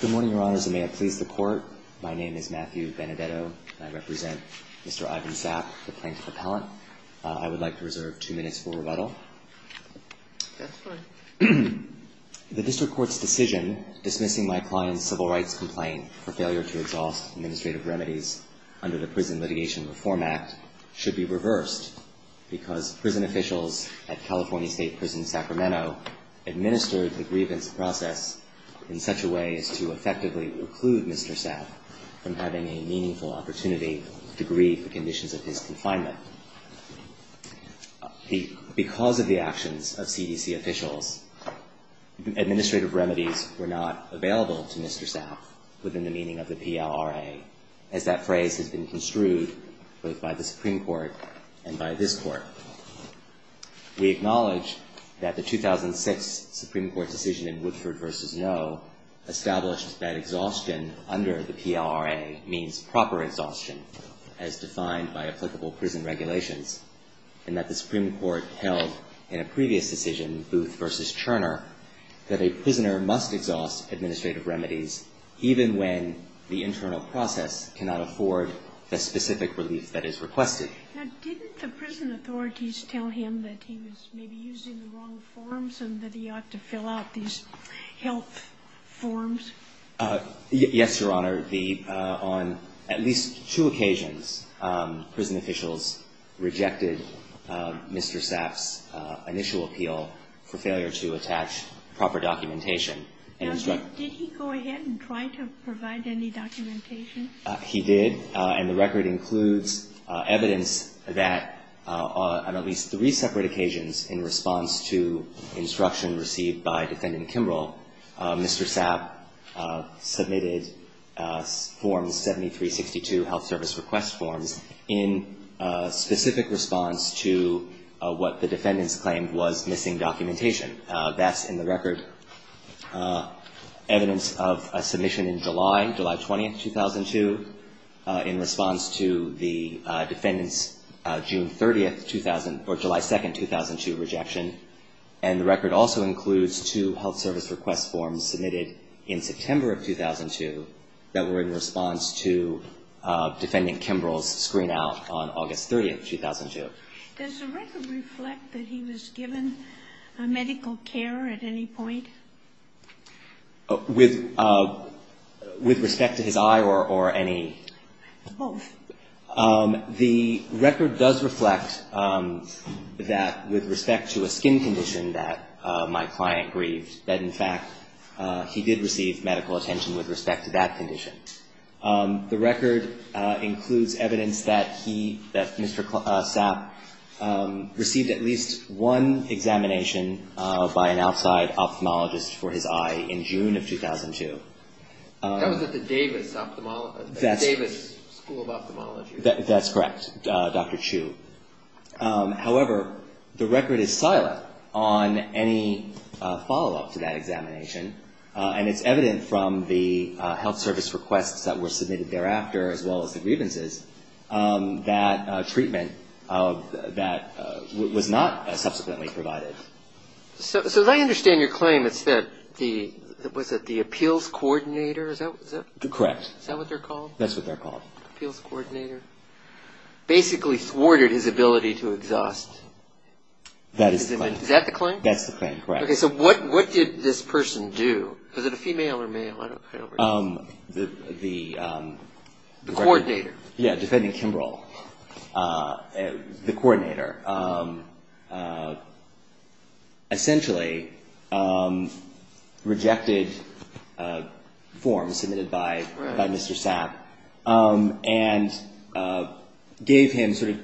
Good morning, Your Honors, and may it please the Court, my name is Matthew Benedetto and I represent Mr. Ivan Sapp, the Plaintiff Appellant. I would like to reserve two minutes for rebuttal. That's fine. The District Court's decision dismissing my client's civil rights complaint for failure to exhaust administrative remedies under the Prison Litigation Reform Act should be reversed because prison officials at California State Prison Sacramento administered the grievance process in such a way as to effectively preclude Mr. Sapp from having a meaningful opportunity to grieve the conditions of his confinement. Because of the actions of CDC officials, administrative remedies were not available to Mr. Sapp within the meaning of the PLRA, as that phrase has been construed both by the Supreme Court and by this Court. We acknowledge that the 2006 Supreme Court decision in Woodford v. Noe established that exhaustion under the PLRA means proper exhaustion, as defined by applicable prison regulations, and that the Supreme Court held in a previous decision, Booth v. Turner, that a prisoner must exhaust administrative remedies even when the internal process cannot afford the specific relief that is requested. Now, didn't the prison authorities tell him that he was maybe using the wrong forms and that he ought to fill out these health forms? Yes, Your Honor. On at least two occasions, prison officials rejected Mr. Sapp's initial appeal for failure to attach proper documentation. Now, did he go ahead and try to provide any documentation? He did, and the record includes evidence that on at least three separate occasions in response to instruction received by Defendant Kimbrell, Mr. Sapp submitted Form 7362, Health Service Request Forms, in specific response to what the defendants claimed was missing documentation. That's in the record. Evidence of a submission in July, July 20, 2002, in response to the defendants' June 30, 2000, or July 2, 2002, rejection. And the record also includes two health service request forms submitted in September of 2002 that were in response to Defendant Kimbrell's screen out on August 30, 2002. Does the record reflect that he was given medical care at any point? With respect to his eye or any? Both. The record does reflect that with respect to a skin condition that my client grieved, that, in fact, he did receive medical attention with respect to that condition. The record includes evidence that he, that Mr. Sapp, received at least one examination by an outside ophthalmologist for his eye in June of 2002. That was at the Davis School of Ophthalmology. That's correct, Dr. Chu. However, the record is silent on any follow-up to that examination. And it's evident from the health service requests that were submitted thereafter, as well as the grievances, that treatment that was not subsequently provided. So as I understand your claim, it's that the, was it the appeals coordinator? Correct. Is that what they're called? That's what they're called. Appeals coordinator. Basically thwarted his ability to exhaust. That is the claim. Is that the claim? That's the claim, correct. Okay, so what did this person do? Was it a female or male? The... The coordinator. Yeah, defending Kimbrel. The coordinator. Essentially rejected forms submitted by Mr. Sapp and gave him sort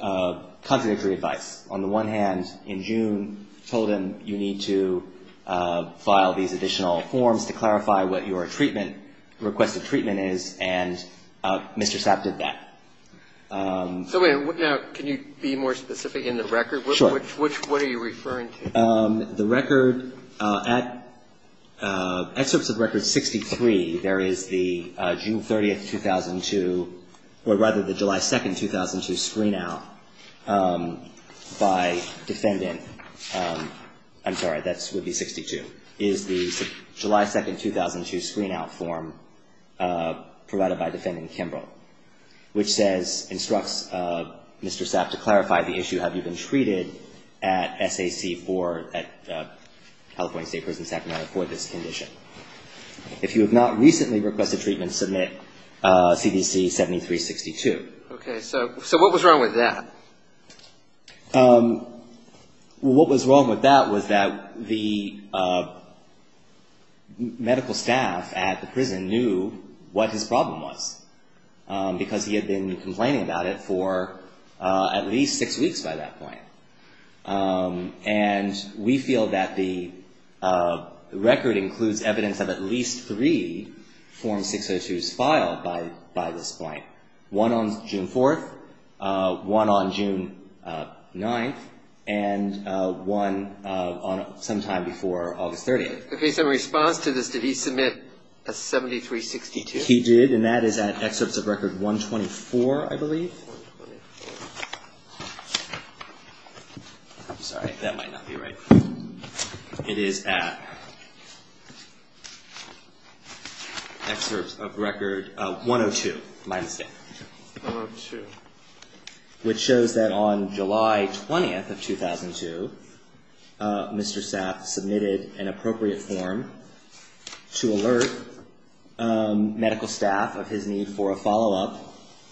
of contradictory advice. On the one hand, in June, told him you need to file these additional forms to clarify what your treatment, requested treatment is, and Mr. Sapp did that. Now, can you be more specific in the record? Sure. What are you referring to? The record at, excerpts of record 63, there is the June 30th, 2002, or rather the July 2nd, 2002 screen out by defendant, I'm sorry, that would be 62, is the July 2nd, 2002 screen out form provided by defendant Kimbrel, which says, instructs Mr. Sapp to clarify the issue. Have you been treated at SAC for, at California State Prison Sacramento for this condition? If you have not recently requested treatment, submit CDC 7362. Okay, so what was wrong with that? What was wrong with that was that the medical staff at the prison knew what his problem was, because he had been complaining about it for at least six weeks by that point. And we feel that the record includes evidence of at least three form 602s filed by this point. One on June 4th, one on June 9th, and one sometime before August 30th. Okay, so in response to this, did he submit a 7362? He did, and that is at excerpts of record 124, I believe. I'm sorry, that might not be right. It is at excerpts of record 102, my mistake. 102. Which shows that on July 20th of 2002, Mr. Sapp submitted an appropriate form to alert medical staff of his need for a follow-up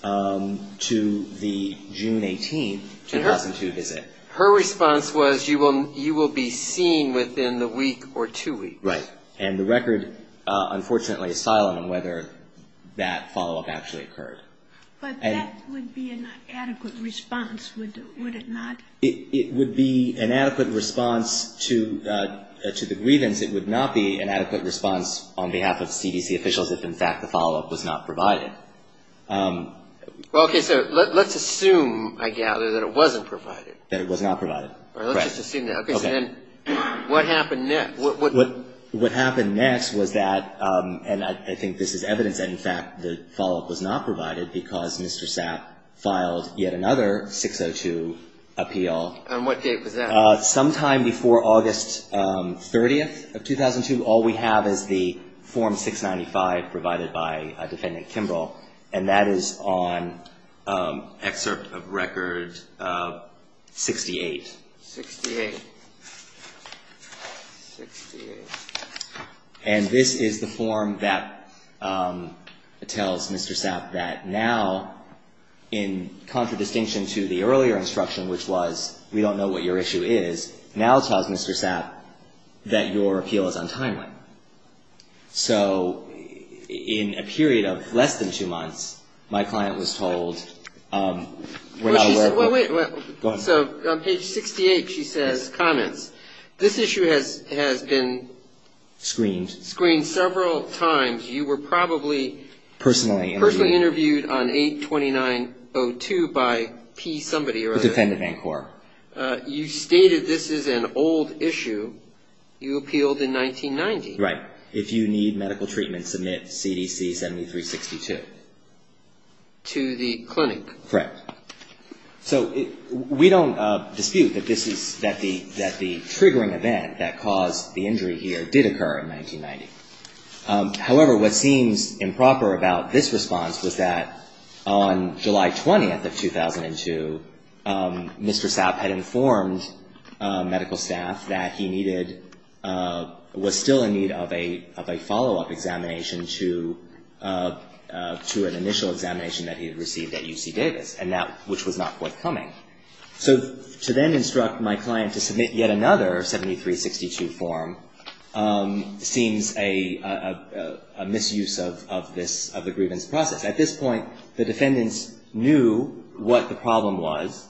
to the June 18th, 2002 visit. Her response was you will be seen within the week or two weeks. Right, and the record, unfortunately, is silent on whether that follow-up actually occurred. But that would be an adequate response, would it not? It would be an adequate response to the grievance. It would not be an adequate response on behalf of CDC officials if, in fact, the follow-up was not provided. Okay, so let's assume, I gather, that it wasn't provided. That it was not provided, correct. Let's just assume that. Okay, so then what happened next? What happened next was that, and I think this is evidence that, in fact, the follow-up was not provided because Mr. Sapp filed yet another 602 appeal. On what date was that? Sometime before August 30th of 2002. All we have is the form 695 provided by Defendant Kimball, and that is on excerpt of record 68. 68. And this is the form that tells Mr. Sapp that now, in contradistinction to the earlier instruction, which was we don't know what your issue is, now tells Mr. Sapp that your appeal is untimely. So in a period of less than two months, my client was told... Go ahead. So on page 68 she says, comments, this issue has been... Screened. Screened several times. You were probably personally interviewed on 829.02 by P somebody or other. You stated this is an old issue. You appealed in 1990. Right. If you need medical treatment, submit CDC 7362. To the clinic. Correct. So we don't dispute that this is, that the triggering event that caused the injury here did occur in 1990. However, what seems improper about this response was that on July 20th of 2002, Mr. Sapp had informed medical staff that he needed, was still in need of a follow-up examination to an initial examination that he had received at UC Davis. And that, which was not quite coming. So to then instruct my client to submit yet another 7362 form seems a misuse of this, of the grievance process. At this point, the defendants knew what the problem was.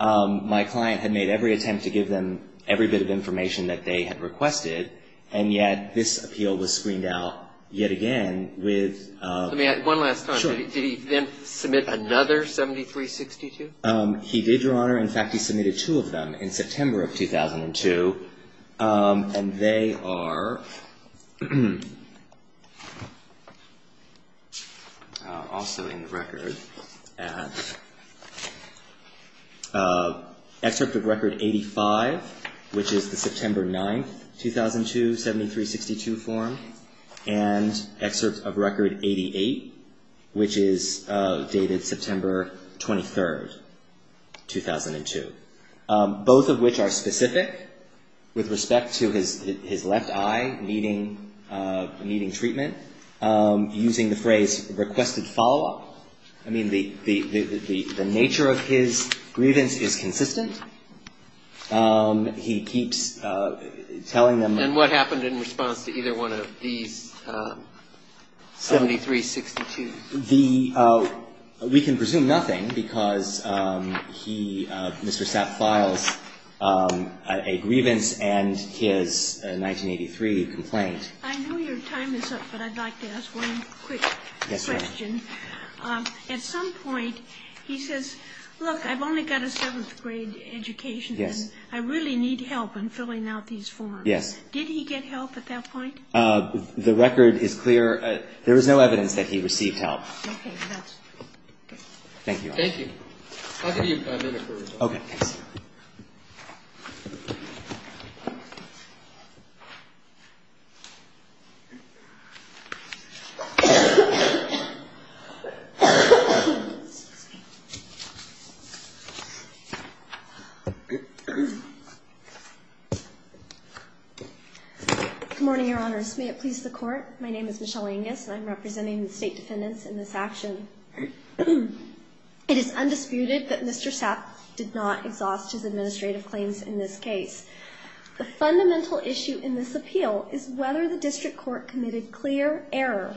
My client had made every attempt to give them every bit of information that they had requested, and yet this appeal was screened out yet again with... 7362? He did, Your Honor. In fact, he submitted two of them in September of 2002. And they are also in the record. Excerpt of record 85, which is the September 9th, 2002, 7362 form. And excerpt of record 88, which is dated September 23rd, 2002. Both of which are specific with respect to his left eye needing treatment, using the phrase requested follow-up. I mean, the nature of his grievance is consistent. He keeps telling them... And what happened in response to either one of these 7362? We can presume nothing, because he, Mr. Sapp, files a grievance and his 1983 complaint. I know your time is up, but I'd like to ask one quick question. At some point, he says, look, I've only got a 7th grade education, and I really need help in filling out these forms. Did he get help at that point? The record is clear. There was no evidence that he received help. Good morning, Your Honors. May it please the Court, my name is Michelle Angus, and I'm representing the State Defendants in this action. It is undisputed that Mr. Sapp did not exhaust his administrative claims in this case. The fundamental issue in this appeal is whether the district court committed clear error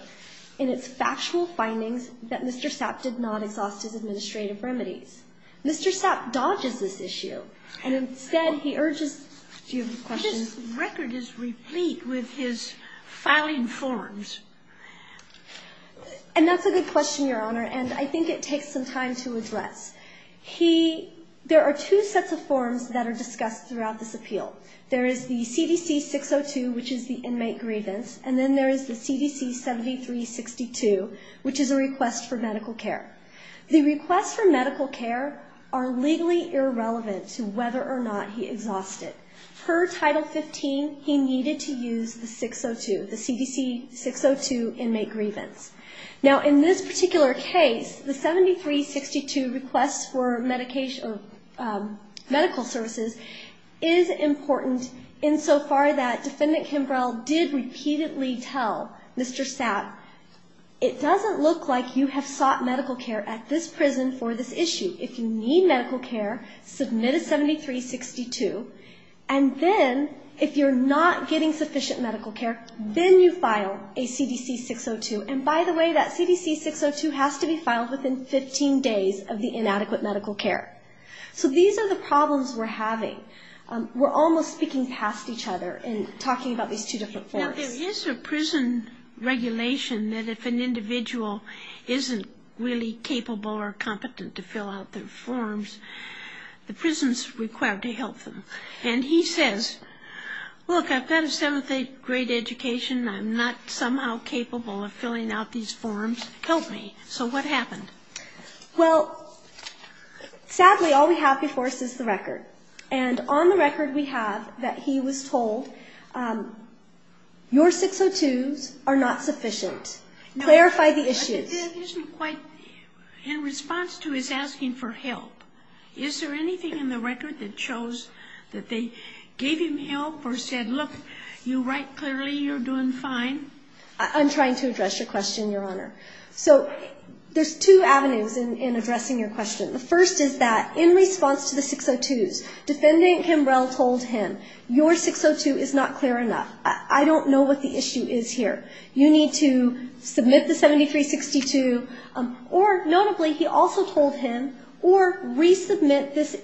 in its factual findings, that Mr. Sapp did not exhaust his administrative remedies. Mr. Sapp dodges this issue, and instead he urges... Do you have a question? His record is replete with his filing forms. And that's a good question, Your Honor, and I think it takes some time to address. There are two sets of forms that are discussed throughout this appeal. There is the CDC 602, which is the inmate grievance, and then there is the CDC 7362, which is a request for medical care. The requests for medical care are legally irrelevant to whether or not he exhausted. Per Title 15, he needed to use the 602, the CDC 602, inmate grievance. Now, in this particular case, the 7362 request for medical services is important insofar that Defendant Kimbrell did repeatedly tell Mr. Sapp, it doesn't look like you have sought medical care at this prison for this issue. If you need medical care, submit a 7362, and then if you're not getting sufficient medical care, then you file a CDC 602. And by the way, that CDC 602 has to be filed within 15 days of the inadequate medical care. So these are the problems we're having. We're almost speaking past each other in talking about these two different forms. Now, there is a prison regulation that if an individual isn't really capable or competent to fill out their forms, the prison's required to help them. And he says, look, I've got a seventh grade education, I'm not somehow capable of filling out these forms, help me. So what happened? Well, sadly, all we have before us is the record. And on the record we have that he was told, your 602s are not sufficient. Clarify the issues. It isn't quite in response to his asking for help. Is there anything in the record that shows that they gave him help or said, look, you write clearly, you're doing fine? I'm trying to address your question, Your Honor. So there's two avenues in addressing your question. The first is that in response to the 602s, Defendant Kimbrell told him, your 602 is not clear enough. I don't know what the issue is here. You need to submit the 7362. Or notably, he also told him, or resubmit this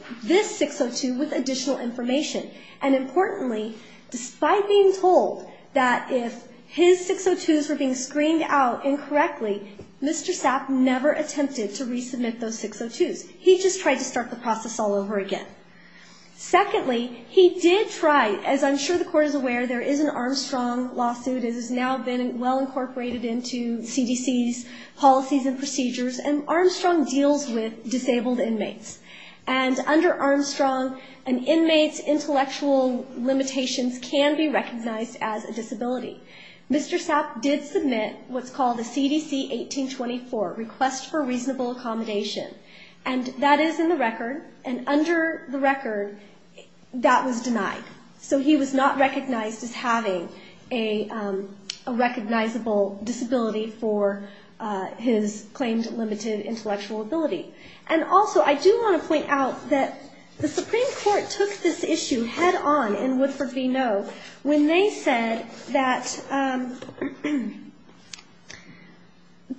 602 with additional information. And importantly, despite being told that if his 602s were being screened out incorrectly, Mr. Sapp never attempted to resubmit those 602s. He just tried to start the process all over again. Secondly, he did try, as I'm sure the Court is aware, there is an Armstrong lawsuit that has now been well incorporated into CDC's policies and procedures, and Armstrong deals with disabled inmates. And under Armstrong, an inmate's intellectual limitations can be recognized as a disability. Mr. Sapp did submit what's called a CDC 1824, Request for Reasonable Accommodation. And that is in the record, and under the record, that was denied. So he was not recognized as having a recognizable disability for his claimed limited intellectual ability. And also, I do want to point out that the Supreme Court took this issue head-on in Woodford v. Monroe when they said that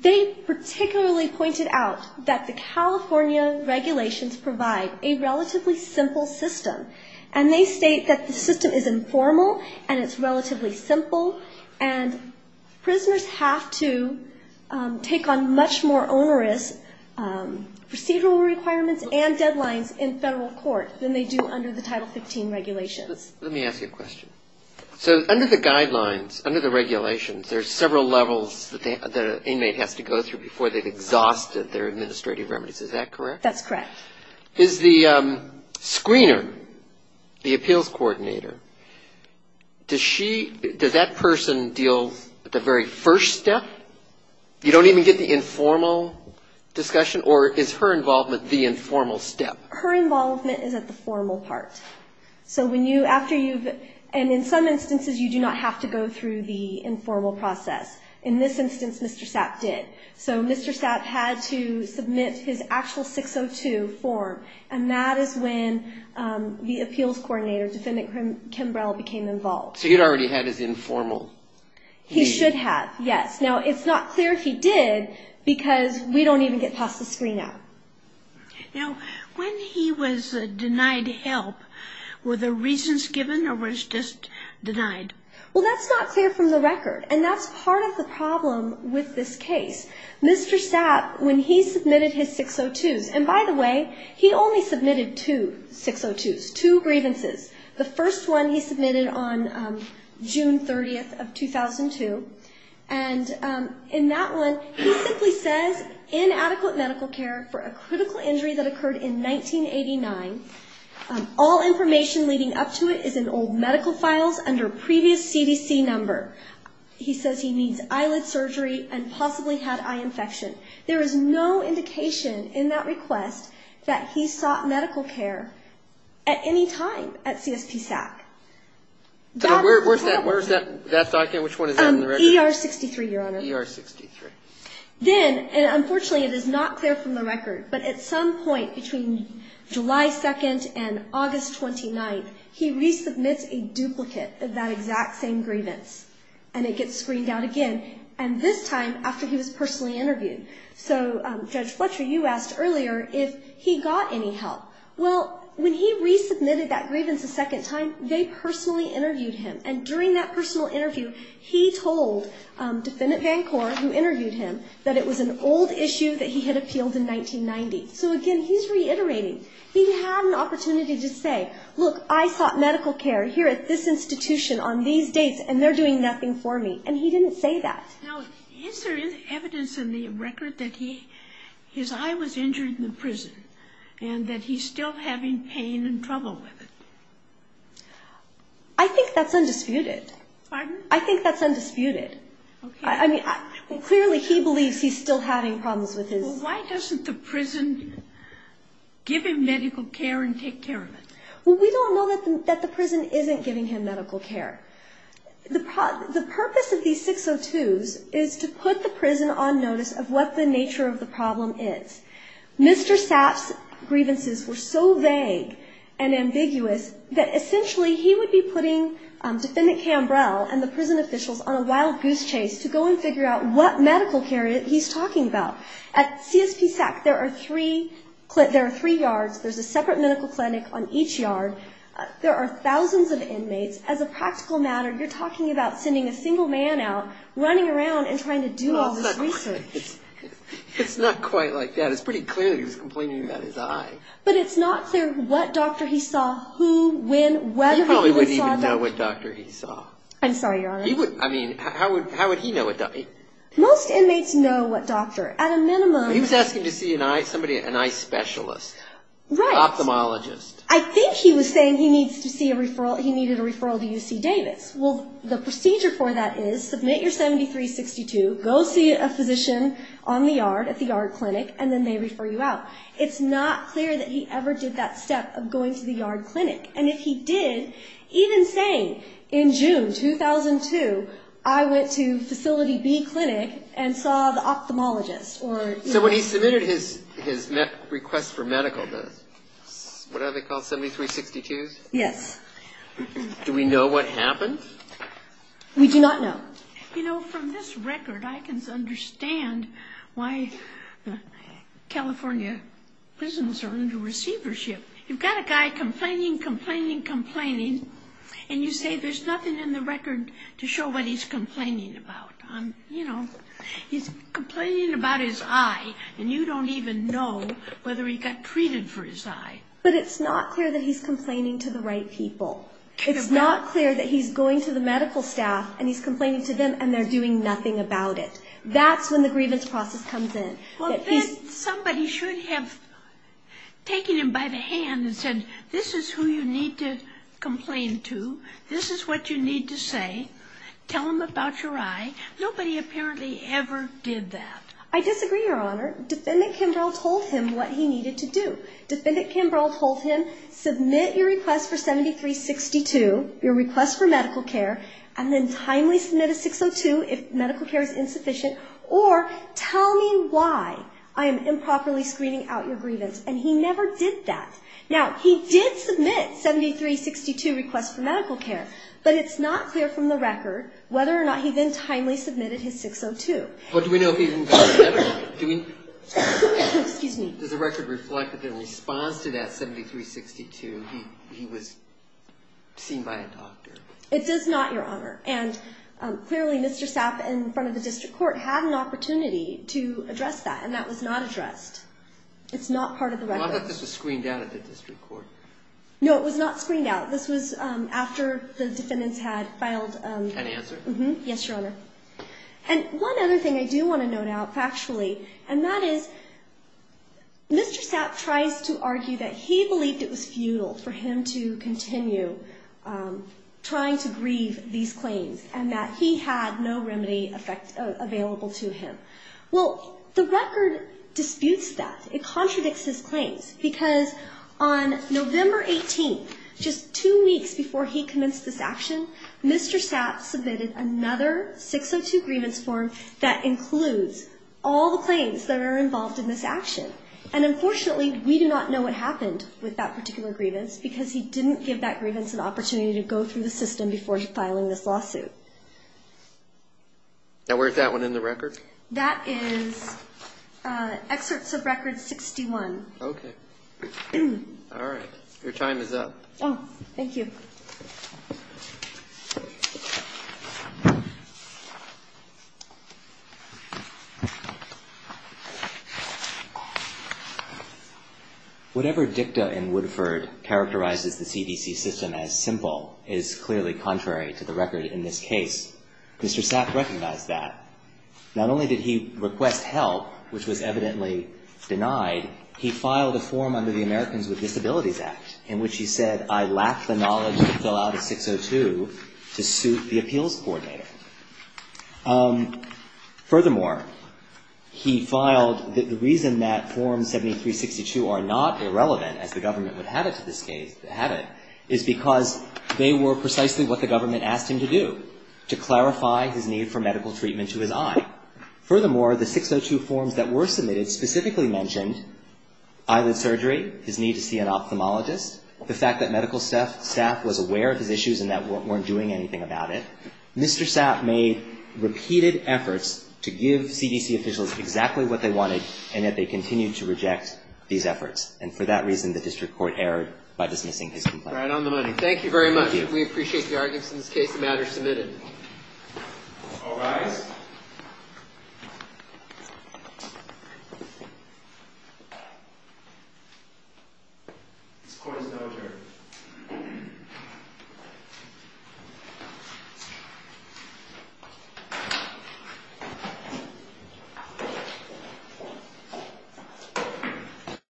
they particularly pointed out that the California regulations provide a relatively simple system. And they state that the system is informal, and it's relatively simple, and prisoners have to take on much more onerous procedural requirements and deadlines in federal court than they do under the Title 15 regulations. Let me ask you a question. So under the guidelines, under the regulations, there's several levels that the inmate has to go through before they've exhausted their administrative remedies, is that correct? That's correct. Is the screener, the appeals coordinator, does she, does that person deal with the very first step? You don't even get the informal discussion, or is her involvement the informal step? Her involvement is at the formal part. So when you, after you've, and in some instances you do not have to go through the informal process. In this instance, Mr. Sapp did. So Mr. Sapp had to submit his actual 602 form, and that is when the appeals coordinator, Defendant Kimbrell became involved. So he'd already had his informal. He should have, yes. Now it's not clear if he did, because we don't even get past the screener. Now when he was denied help, were the reasons given, or was just denied? Well, that's not clear from the record, and that's part of the problem with this case. Mr. Sapp, when he submitted his 602s, and by the way, he only submitted two 602s, two grievances. The first one he submitted on June 30th of 2002, and in that one, he simply says, inadequate medical care for a critical injury that occurred in 1989. All information leading up to it is in old medical files under previous CDC number. He says he needs eyelid surgery and possibly had eye infection. There is no indication in that request that he sought medical care at any time at CSP SAC. Where's that document? Which one is that in the record? ER 63, Your Honor. ER 63. Then, and unfortunately it is not clear from the record, but at some point between July 2nd and August 29th, he resubmits a duplicate of that exact same grievance, and it gets screened out again, and this time after he was personally interviewed. So Judge Fletcher, you asked earlier if he got any help. Well, when he resubmitted that grievance a second time, they personally interviewed him, and during that personal interview, he told Defendant VanCore, who interviewed him, that it was an old issue that he had appealed in 1990. So again, he's reiterating. He had an opportunity to say, look, I sought medical care here at this institution on these dates, and they're doing nothing for me, and he didn't say that. Now, is there evidence in the record that he, his eye was injured in the prison, and that he's still having pain and trouble with it? I think that's undisputed. I think that's undisputed. I mean, clearly he believes he's still having problems with his eye. Well, why doesn't the prison give him medical care and take care of it? Well, we don't know that the prison isn't giving him medical care. The purpose of these 602s is to put the prison on notice of what the nature of the problem is. Mr. Sapp's grievances were so vague and ambiguous that essentially he would be putting Defendant Cambrell and the prison officials on a wild goose chase to go and figure out what medical care he's talking about. At CSPSAC, there are three yards. There's a separate medical clinic on each yard. There are thousands of inmates. As a practical matter, you're talking about sending a single man out, running around and trying to do all this research. It's not quite like that. It's pretty clear that he was complaining about his eye. He probably wouldn't even know what doctor he saw. I'm sorry, Your Honor. Most inmates know what doctor. He was asking to see somebody, an eye specialist, an ophthalmologist. I think he was saying he needed a referral to UC Davis. Well, the procedure for that is submit your 7362, go see a physician on the yard at the yard clinic, and then they refer you out. It's not clear that he ever did that step of going to the yard clinic. And if he did, even saying in June 2002, I went to Facility B clinic and saw the ophthalmologist. So when he submitted his request for medical, what are they called, 7362s? Yes. Do we know what happened? We do not know. You know, from this record I can understand why California prisons are under receivership. You've got a guy complaining, complaining, complaining, and you say there's nothing in the record to show what he's complaining about. You know, he's complaining about his eye, and you don't even know whether he got treated for his eye. But it's not clear that he's complaining to the right people. It's not clear that he's going to the medical staff and he's complaining to them and they're doing nothing about it. That's when the grievance process comes in. Well, then somebody should have taken him by the hand and said, this is who you need to complain to. This is what you need to say. Tell him about your eye. Nobody apparently ever did that. I disagree, Your Honor. Defendant Kimbrell told him what he needed to do. Defendant Kimbrell told him, submit your request for 7362, your request for medical care, and then timely submit a 602 if medical care is insufficient, or tell me why I am improperly screening out your grievance. And he never did that. Now, he did submit 7362, request for medical care, but it's not clear from the record whether or not he then timely submitted his 602. But do we know if he even got medical care? Does the record reflect that in response to that 7362 he was seen by a doctor? It does not, Your Honor. And clearly, Mr. Sapp in front of the district court had an opportunity to address that, and that was not addressed. It's not part of the record. Well, I thought this was screened out at the district court. No, it was not screened out. This was after the defendants had filed. Any answer? Yes, Your Honor. And one other thing I do want to note out factually, and that is Mr. Sapp tries to argue that he believed it was futile for him to continue trying to grieve these claims, and that he had no remedy available to him. Well, the record disputes that. It contradicts his claims, because on November 18th, just two weeks before he commenced this action, Mr. Sapp submitted another 602 grievance form that includes all the claims that are involved in this action. And unfortunately, we do not know what happened with that particular grievance, because he didn't give that grievance an opportunity to go through the system before filing this lawsuit. Now, where's that one in the record? That is excerpts of record 61. Okay. All right. Your time is up. Oh, thank you. Whatever dicta in Woodford characterizes the CDC system as simple is clearly contrary to the record in this case. Mr. Sapp recognized that. Not only did he request help, which was evidently denied, he filed a form under the Americans with Disabilities Act in which he said, I lack the knowledge to fill out a 602 to suit the appeals coordinator. Furthermore, he filed the reason that form 7362 are not irrelevant, as the government would have it to this case, is because they were precisely what the government asked him to do, to clarify his need for medical treatment to his eye. Furthermore, the 602 forms that were submitted specifically mentioned eyelid surgery, his need to see an ophthalmologist, the fact that medical staff was aware of his issues and that weren't doing anything about it. Mr. Sapp made repeated efforts to give CDC officials exactly what they wanted, and yet they continued to reject these efforts. And for that reason, the district court erred by dismissing his complaint. All right. On the money. Thank you very much. We appreciate the arguments in this case. The matter is submitted. Thank you.